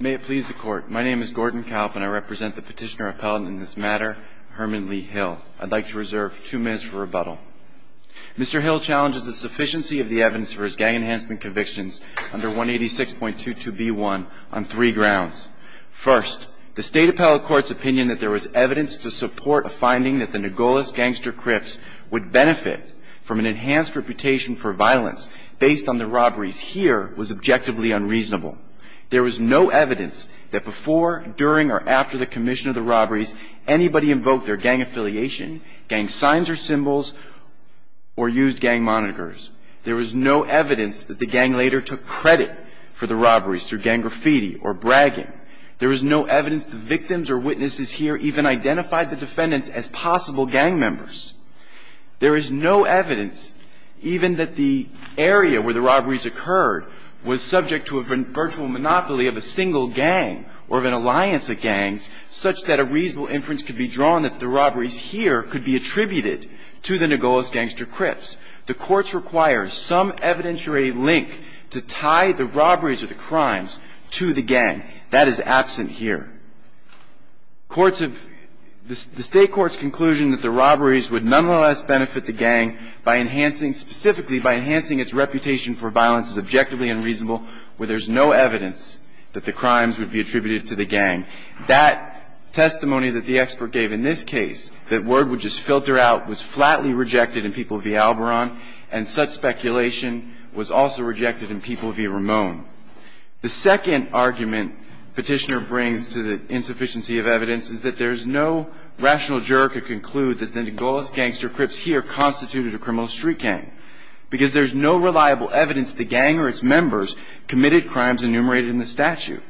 May it please the court. My name is Gordon Kalp and I represent the petitioner appellate in this matter, Herman Lee Hill. I'd like to reserve two minutes for rebuttal. Mr. Hill challenges the sufficiency of the evidence for his gang enhancement convictions under 186.22b1 on three grounds. First, the State Appellate Court's opinion that there was evidence to support a finding that the Nogolas Gangster Crips would benefit from an enhanced reputation for violence based on the robberies here was objectively unreasonable. There was no evidence that before, during, or after the commission of the robberies anybody invoked their gang affiliation, gang signs or symbols, or used gang monikers. There was no evidence that the gang later took credit for the robberies through gang graffiti or bragging. There was no evidence the victims or witnesses here even identified the defendants as possible gang members. There is no evidence even that the area where the robberies occurred was subject to a virtual monopoly of a single gang or of an alliance of gangs such that a reasonable inference could be drawn that the robberies here could be attributed to the Nogolas Gangster Crips. The courts require some evidentiary link to tie the robberies or the crimes to the gang. That is absent here. Courts have – the State Court's conclusion that the robberies would nonetheless benefit the gang by enhancing – specifically by enhancing its reputation for violence is objectively unreasonable where there's no evidence that the crimes would be attributed to the gang. That testimony that the expert gave in this case, that word would just filter out, was flatly rejected in People v. Alboron, and such speculation was also rejected in People v. Ramone. The second argument Petitioner brings to the insufficiency of evidence is that there's no rational juror could conclude that the Nogolas Gangster Crips here constituted a criminal street gang because there's no reliable evidence the gang or its members committed crimes enumerated in the statute.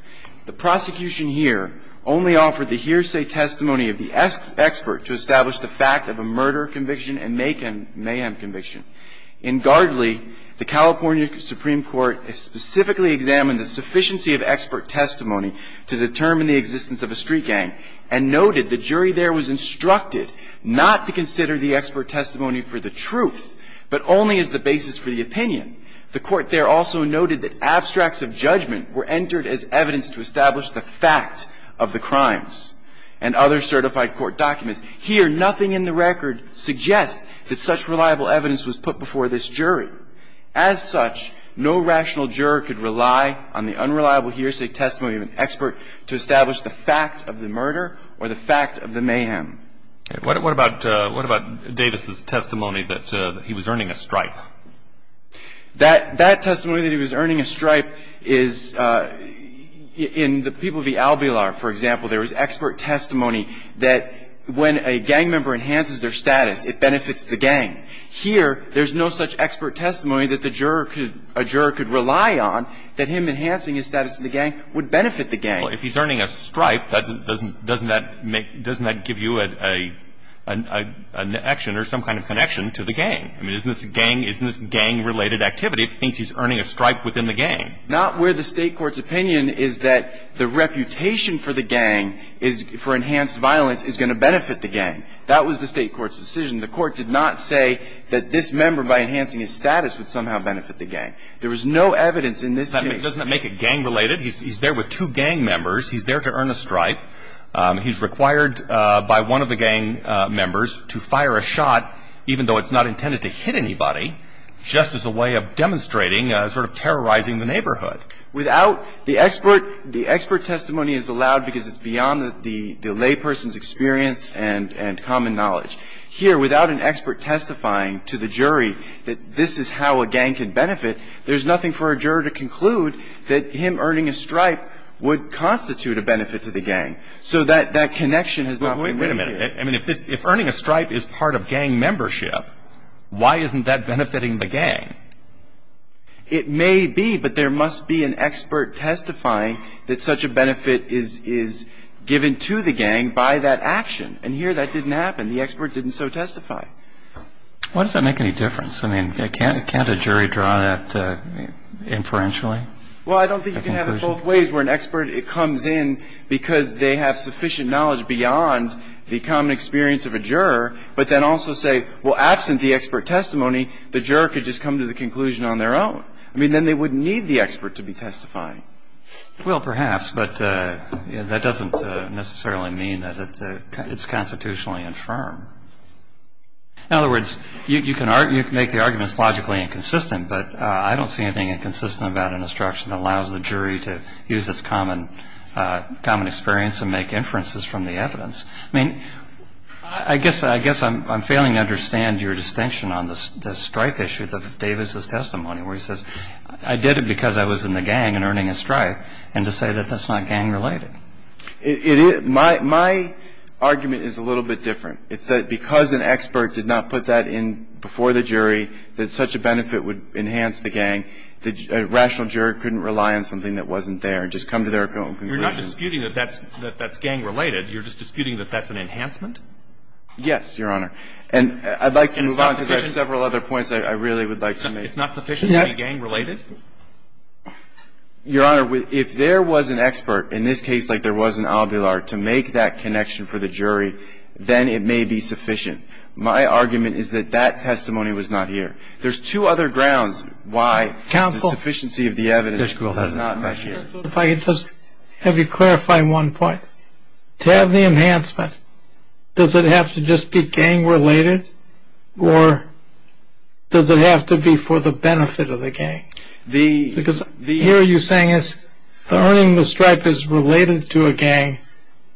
The prosecution here only offered the hearsay testimony of the expert to establish the fact of a murder conviction and mayhem conviction. In Gardley, the California Supreme Court specifically examined the sufficiency of expert testimony to determine the existence of a street gang and noted the jury there was instructed not to consider the expert testimony for the truth, but only as the basis for the opinion. The Court there also noted that abstracts of judgment were entered as evidence to establish the fact of the crimes and other certified court documents. Here, nothing in the record suggests that such reliable evidence was put before this jury. As such, no rational juror could rely on the unreliable hearsay testimony of an expert to establish the fact of the murder or the fact of the mayhem. What about Davis' testimony that he was earning a stripe? That testimony that he was earning a stripe is in the People v. Albilar, for example, there was expert testimony that when a gang member enhances their status, it benefits the gang. Here, there's no such expert testimony that the juror could rely on, that him enhancing his status in the gang would benefit the gang. Well, if he's earning a stripe, doesn't that give you an action or some kind of connection to the gang? I mean, isn't this gang-related activity? He thinks he's earning a stripe within the gang. Not where the State court's opinion is that the reputation for the gang, for enhanced violence, is going to benefit the gang. That was the State court's decision. The court did not say that this member, by enhancing his status, would somehow benefit the gang. There was no evidence in this case. It doesn't make it gang-related. He's there to earn a stripe. He's required by one of the gang members to fire a shot, even though it's not intended to hit anybody, just as a way of demonstrating, sort of terrorizing the neighborhood. The expert testimony is allowed because it's beyond the layperson's experience and common knowledge. Here, without an expert testifying to the jury that this is how a gang can benefit, there's nothing for a juror to conclude that him earning a stripe would constitute a benefit to the gang. So that connection has not been made. Wait a minute. I mean, if earning a stripe is part of gang membership, why isn't that benefiting the gang? It may be, but there must be an expert testifying that such a benefit is given to the gang by that action. And here, that didn't happen. The expert didn't so testify. Why does that make any difference? I mean, can't a jury draw that inferentially? Well, I don't think you can have it both ways where an expert comes in because they have sufficient knowledge beyond the common experience of a juror, but then also say, well, absent the expert testimony, the juror could just come to the conclusion on their own. I mean, then they wouldn't need the expert to be testifying. Well, perhaps, but that doesn't necessarily mean that it's constitutionally infirm. In other words, you can make the arguments logically inconsistent, but I don't see anything inconsistent about an instruction that allows the jury to use its common experience and make inferences from the evidence. I mean, I guess I'm failing to understand your distinction on the stripe issue, Davis' testimony, where he says, I did it because I was in the gang and earning a stripe, and to say that that's not gang-related. My argument is a little bit different. It's that because an expert did not put that in before the jury that such a benefit would enhance the gang, the rational juror couldn't rely on something that wasn't there and just come to their own conclusion. You're not disputing that that's gang-related. You're just disputing that that's an enhancement? Yes, Your Honor. And I'd like to move on because I have several other points I really would like to make. It's not sufficient to be gang-related? Your Honor, if there was an expert, in this case, like there was in Avilar, to make that connection for the jury, then it may be sufficient. My argument is that that testimony was not here. There's two other grounds why the sufficiency of the evidence is not here. Counsel, if I could just have you clarify one point. To have the enhancement, does it have to just be gang-related, or does it have to be for the benefit of the gang? Because here you're saying that earning the stripe is related to a gang,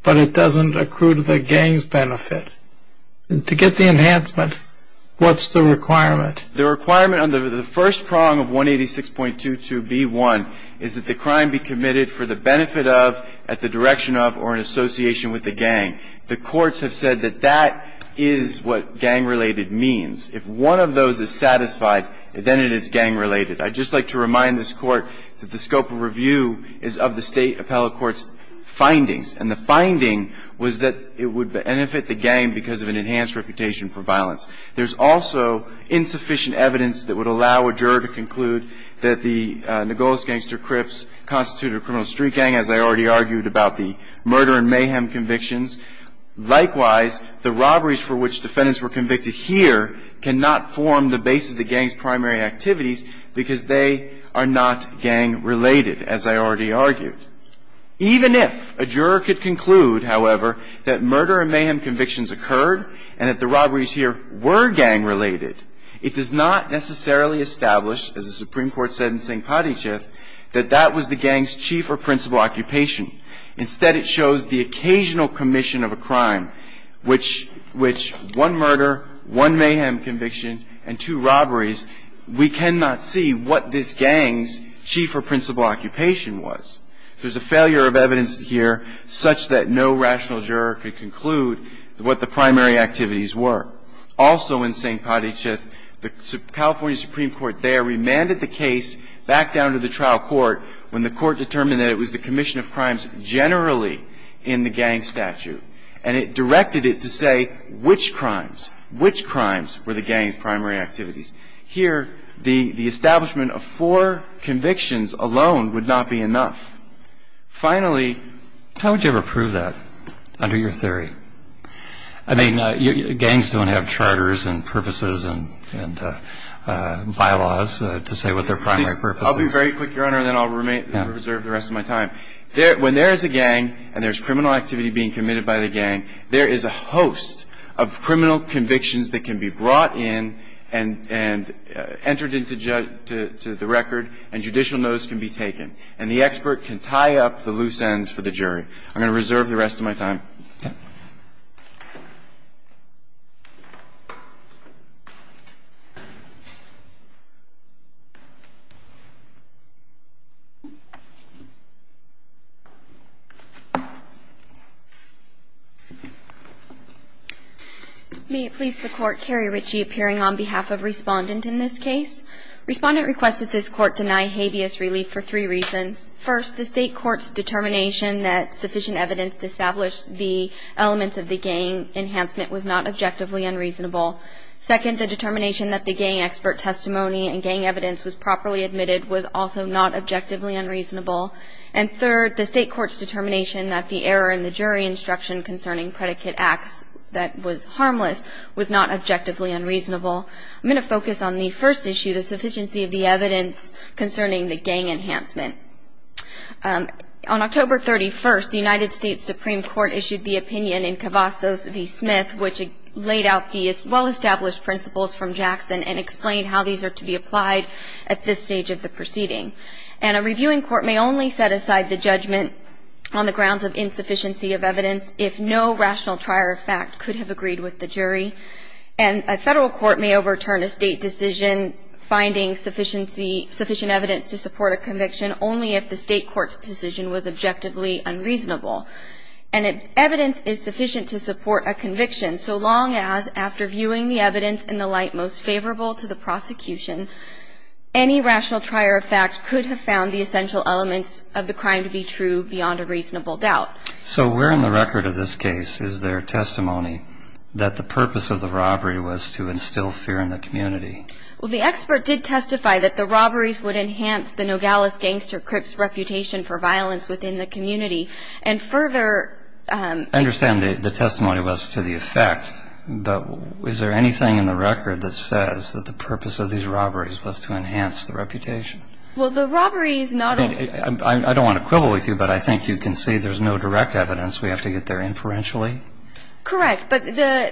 but it doesn't accrue to the gang's benefit. To get the enhancement, what's the requirement? The requirement under the first prong of 186.22b1 is that the crime be committed for the benefit of, at the direction of, or in association with the gang. The courts have said that that is what gang-related means. If one of those is satisfied, then it is gang-related. I'd just like to remind this Court that the scope of review is of the State Appellate Court's findings, and the finding was that it would benefit the gang because of an enhanced reputation for violence. There's also insufficient evidence that would allow a juror to conclude that the Nogales Gangster Crips constituted a criminal street gang, as I already argued about the murder and mayhem convictions. Likewise, the robberies for which defendants were convicted here cannot form the basis of the gang's primary activities because they are not gang-related, as I already argued. Even if a juror could conclude, however, that murder and mayhem convictions occurred and that the robberies here were gang-related, it does not necessarily establish, as the Supreme Court said in St. Padice, that that was the gang's chief or principal occupation. Instead, it shows the occasional commission of a crime, which one murder, one mayhem conviction, and two robberies, we cannot see what this gang's chief or principal occupation was. There's a failure of evidence here such that no rational juror could conclude what the primary activities were. Also in St. Padice, the California Supreme Court there remanded the case back down to the trial court when the Court determined that it was the commission of crimes generally in the gang statute, and it directed it to say which crimes, which crimes were the gang's primary activities. Here, the establishment of four convictions alone would not be enough. Finally, how would you ever prove that under your theory? I mean, gangs don't have charters and purposes and bylaws to say what their primary purpose is. I'll be very quick, Your Honor, and then I'll reserve the rest of my time. When there is a gang and there's criminal activity being committed by the gang, there is a host of criminal convictions that can be brought in and entered into the record and judicial notice can be taken. And the expert can tie up the loose ends for the jury. I'm going to reserve the rest of my time. May it please the Court, Carrie Ritchie, appearing on behalf of Respondent in this case. Respondent requested this Court deny habeas relief for three reasons. First, the State court's determination that sufficient evidence to establish the existence of gang-related crimes was not sufficient. Secondly, the elements of the gang enhancement was not objectively unreasonable. Second, the determination that the gang expert testimony and gang evidence was properly admitted was also not objectively unreasonable. And third, the State court's determination that the error in the jury instruction concerning predicate acts that was harmless was not objectively unreasonable. I'm going to focus on the first issue, the sufficiency of the evidence concerning the gang enhancement. On October 31st, the United States Supreme Court issued the opinion in Cavazos v. Smith, which laid out the well-established principles from Jackson and explained how these are to be applied at this stage of the proceeding. And a reviewing court may only set aside the judgment on the grounds of insufficiency of evidence if no rational trier of fact could have agreed with the jury. And a Federal court may overturn a State decision finding sufficient evidence to support a conviction only if the State court's decision was objectively unreasonable. And if evidence is sufficient to support a conviction, so long as after viewing the evidence in the light most favorable to the prosecution, any rational trier of fact could have found the essential elements of the crime to be true beyond a reasonable doubt. So where in the record of this case is there testimony that the purpose of the robbery was to instill fear in the community? Well, the expert did testify that the robberies would enhance the Nogales Gangster Crips reputation for violence within the community and further I understand the testimony was to the effect, but is there anything in the record that says that the purpose of these robberies was to enhance the reputation? Well, the robbery is not I don't want to quibble with you, but I think you can see there's no direct evidence we have to get there inferentially. Correct. But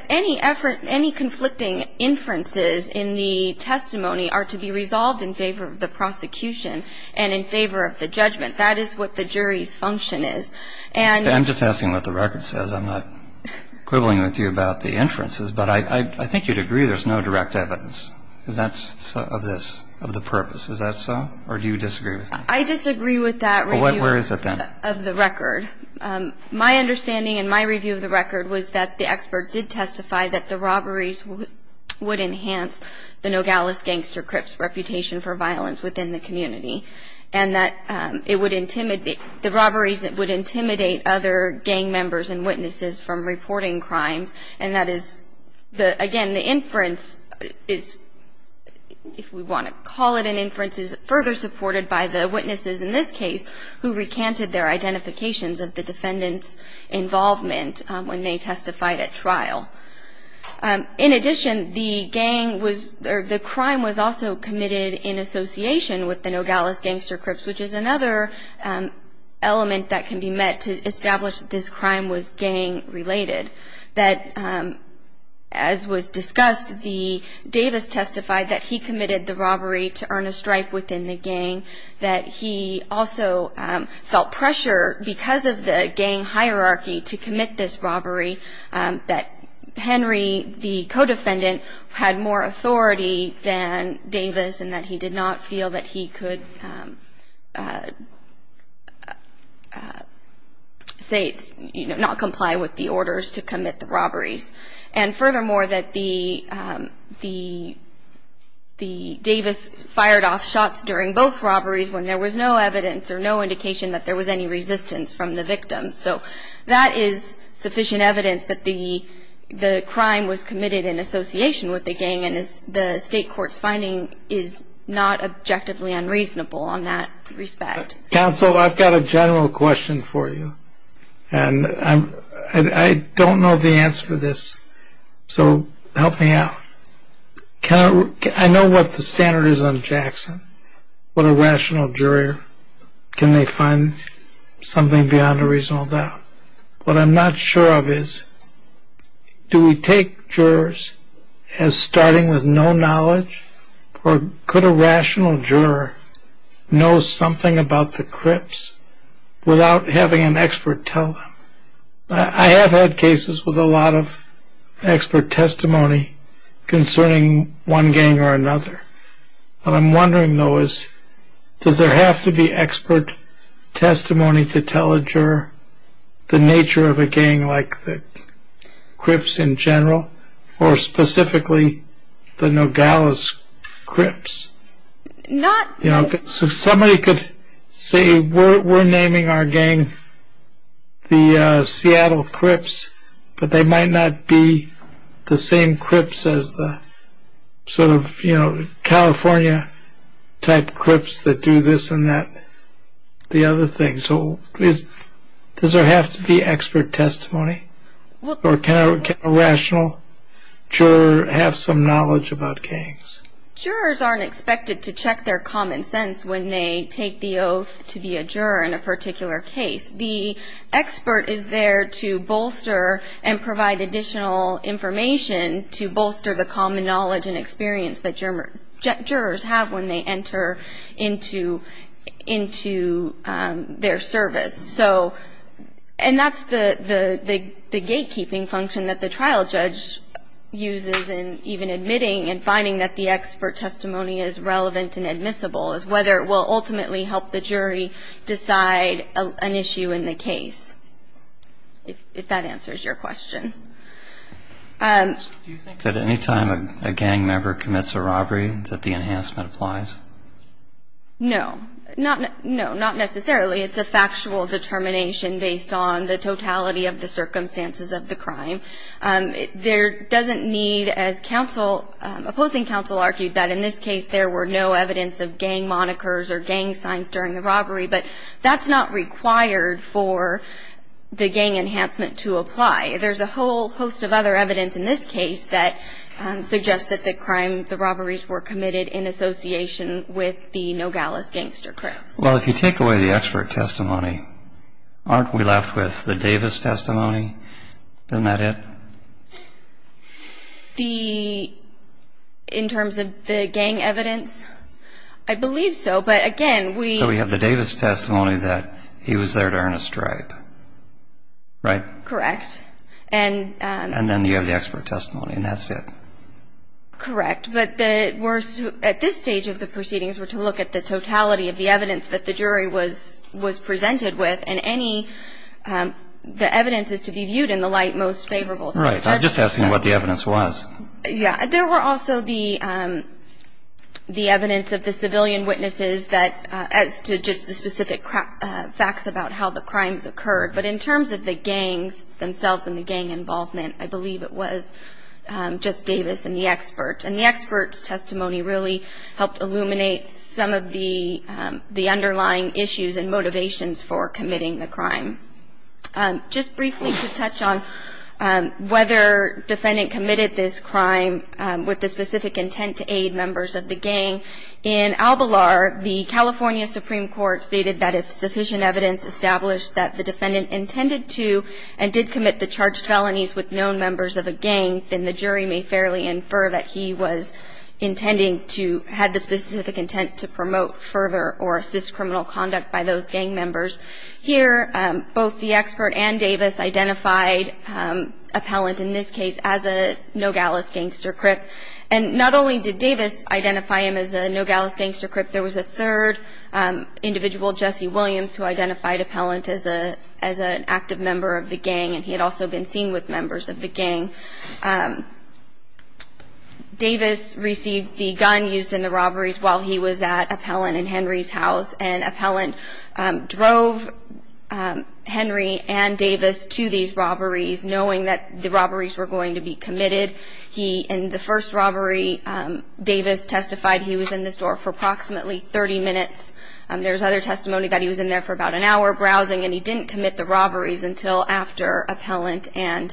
any effort, any conflicting inferences in the testimony are to be resolved in favor of the prosecution and in favor of the judgment. That is what the jury's function is. I'm just asking what the record says. I'm not quibbling with you about the inferences. But I think you'd agree there's no direct evidence of this, of the purpose. Is that so? Or do you disagree with me? I disagree with that review of the record. My understanding and my review of the record was that the expert did testify that the robberies would enhance the Nogales Gangster Crips reputation for violence within the community and that it would intimidate, the robberies would intimidate other gang members and witnesses from reporting crimes. And that is, again, the inference is, if we want to call it an inference, the inference is further supported by the witnesses in this case who recanted their identifications of the defendant's involvement when they testified at trial. In addition, the gang was, or the crime was also committed in association with the Nogales Gangster Crips, which is another element that can be met to establish that this crime was gang-related. That, as was discussed, Davis testified that he committed the robbery to earn a strike within the gang, that he also felt pressure because of the gang hierarchy to commit this robbery, that Henry, the co-defendant, had more authority than Davis and that he did not feel that he could, say, not comply with the orders to commit the robberies. And furthermore, that the Davis fired off shots during both robberies when there was no evidence or no indication that there was any resistance from the victims. So that is sufficient evidence that the crime was committed in association with the gang and the state court's finding is not objectively unreasonable in that respect. Counsel, I've got a general question for you, and I don't know the answer to this, so help me out. I know what the standard is on Jackson, what a rational juror. Can they find something beyond a reasonable doubt? What I'm not sure of is, do we take jurors as starting with no knowledge, or could a rational juror know something about the crips without having an expert tell them? I have had cases with a lot of expert testimony concerning one gang or another. What I'm wondering, though, is does there have to be expert testimony to tell a juror the nature of a gang like the Crips in general, or specifically the Nogales Crips? Somebody could say, we're naming our gang the Seattle Crips, but they might not be the same Crips as the sort of California-type Crips that do this and that, the other thing. So does there have to be expert testimony, or can a rational juror have some knowledge about gangs? Jurors aren't expected to check their common sense when they take the oath to be a juror in a particular case. The expert is there to bolster and provide additional information to bolster the common knowledge and experience that jurors have when they enter into their service. And that's the gatekeeping function that the trial judge uses in even admitting and finding that the expert testimony is relevant and admissible, is whether it will ultimately help the jury decide an issue in the case, if that answers your question. Do you think that any time a gang member commits a robbery that the enhancement applies? No. No, not necessarily. It's a factual determination based on the totality of the circumstances of the crime. There doesn't need, as opposing counsel argued, that in this case there were no evidence of gang monikers or gang signs during the robbery, but that's not required for the gang enhancement to apply. There's a whole host of other evidence in this case that suggests that the crime, the robberies, were committed in association with the Nogales gangster crimes. Well, if you take away the expert testimony, aren't we left with the Davis testimony? Isn't that it? The, in terms of the gang evidence, I believe so. But again, we... So we have the Davis testimony that he was there to earn a stripe. Right? Correct. And... And then you have the expert testimony, and that's it. Correct. But we're, at this stage of the proceedings, we're to look at the totality of the evidence that the jury was presented with, and any, the evidence is to be viewed in the light most favorable. Right. I'm just asking what the evidence was. Yeah. There were also the evidence of the civilian witnesses that, as to just the specific facts about how the crimes occurred. But in terms of the gangs themselves and the gang involvement, I believe it was just Davis and the expert. And the expert's testimony really helped illuminate some of the underlying issues and motivations for committing the crime. Just briefly to touch on whether defendant committed this crime with the specific intent to aid members of the gang, in Albalar, the California Supreme Court stated that if sufficient evidence established that the defendant intended to and did commit the charged felonies with known members of a gang, then the jury may fairly infer that he was intending to, had the specific intent to promote further or assist criminal conduct by those gang members. Here, both the expert and Davis identified appellant in this case as a Nogales gangster crip. And not only did Davis identify him as a Nogales gangster crip, there was a third individual, Jesse Williams, who identified appellant as an active member of the gang, and he had also been seen with members of the gang. Davis received the gun used in the robberies while he was at appellant in Henry's house, and appellant drove Henry and Davis to these robberies, knowing that the robberies were going to be committed. In the first robbery, Davis testified he was in the store for approximately 30 minutes. There's other testimony that he was in there for about an hour browsing, and he didn't commit the robberies until after appellant and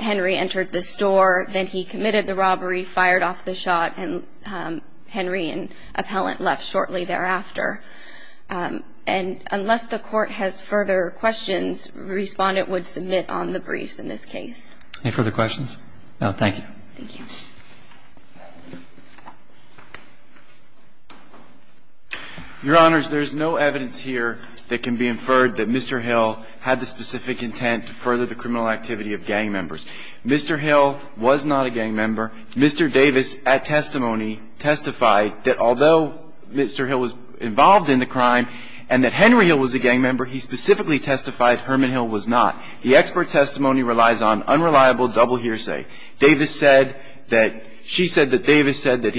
Henry entered the store. And then he committed the robbery, fired off the shot, and Henry and appellant left shortly thereafter. And unless the Court has further questions, Respondent would submit on the briefs in this case. Any further questions? No. Thank you. Thank you. Your Honors, there's no evidence here that can be inferred that Mr. Hill had the specific intent to further the criminal activity of gang members. Mr. Hill was not a gang member. Mr. Davis, at testimony, testified that although Mr. Hill was involved in the crime and that Henry Hill was a gang member, he specifically testified Herman Hill was not. The expert testimony relies on unreliable double hearsay. Davis said that he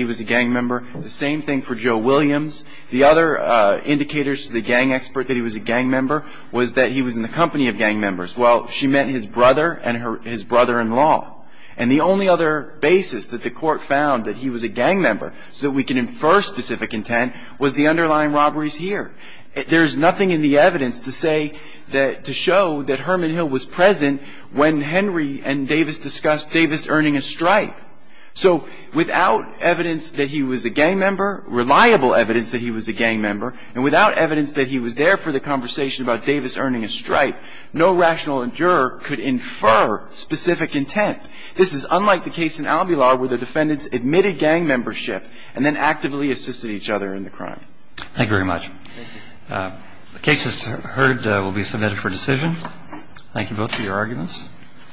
was a gang member. The same thing for Joe Williams. The other indicators to the gang expert that he was a gang member was that he was in the company of gang members. Well, she meant his brother and his brother-in-law. And the only other basis that the Court found that he was a gang member so that we can infer specific intent was the underlying robberies here. There's nothing in the evidence to say that to show that Herman Hill was present when Henry and Davis discussed Davis earning a stripe. So without evidence that he was a gang member, reliable evidence that he was a gang member, and without evidence that he was there for the conversation about Davis earning a stripe, no rational juror could infer specific intent. This is unlike the case in Albular where the defendants admitted gang membership and then actively assisted each other in the crime. Thank you very much. Thank you. The case, as heard, will be submitted for decision. Thank you both for your arguments.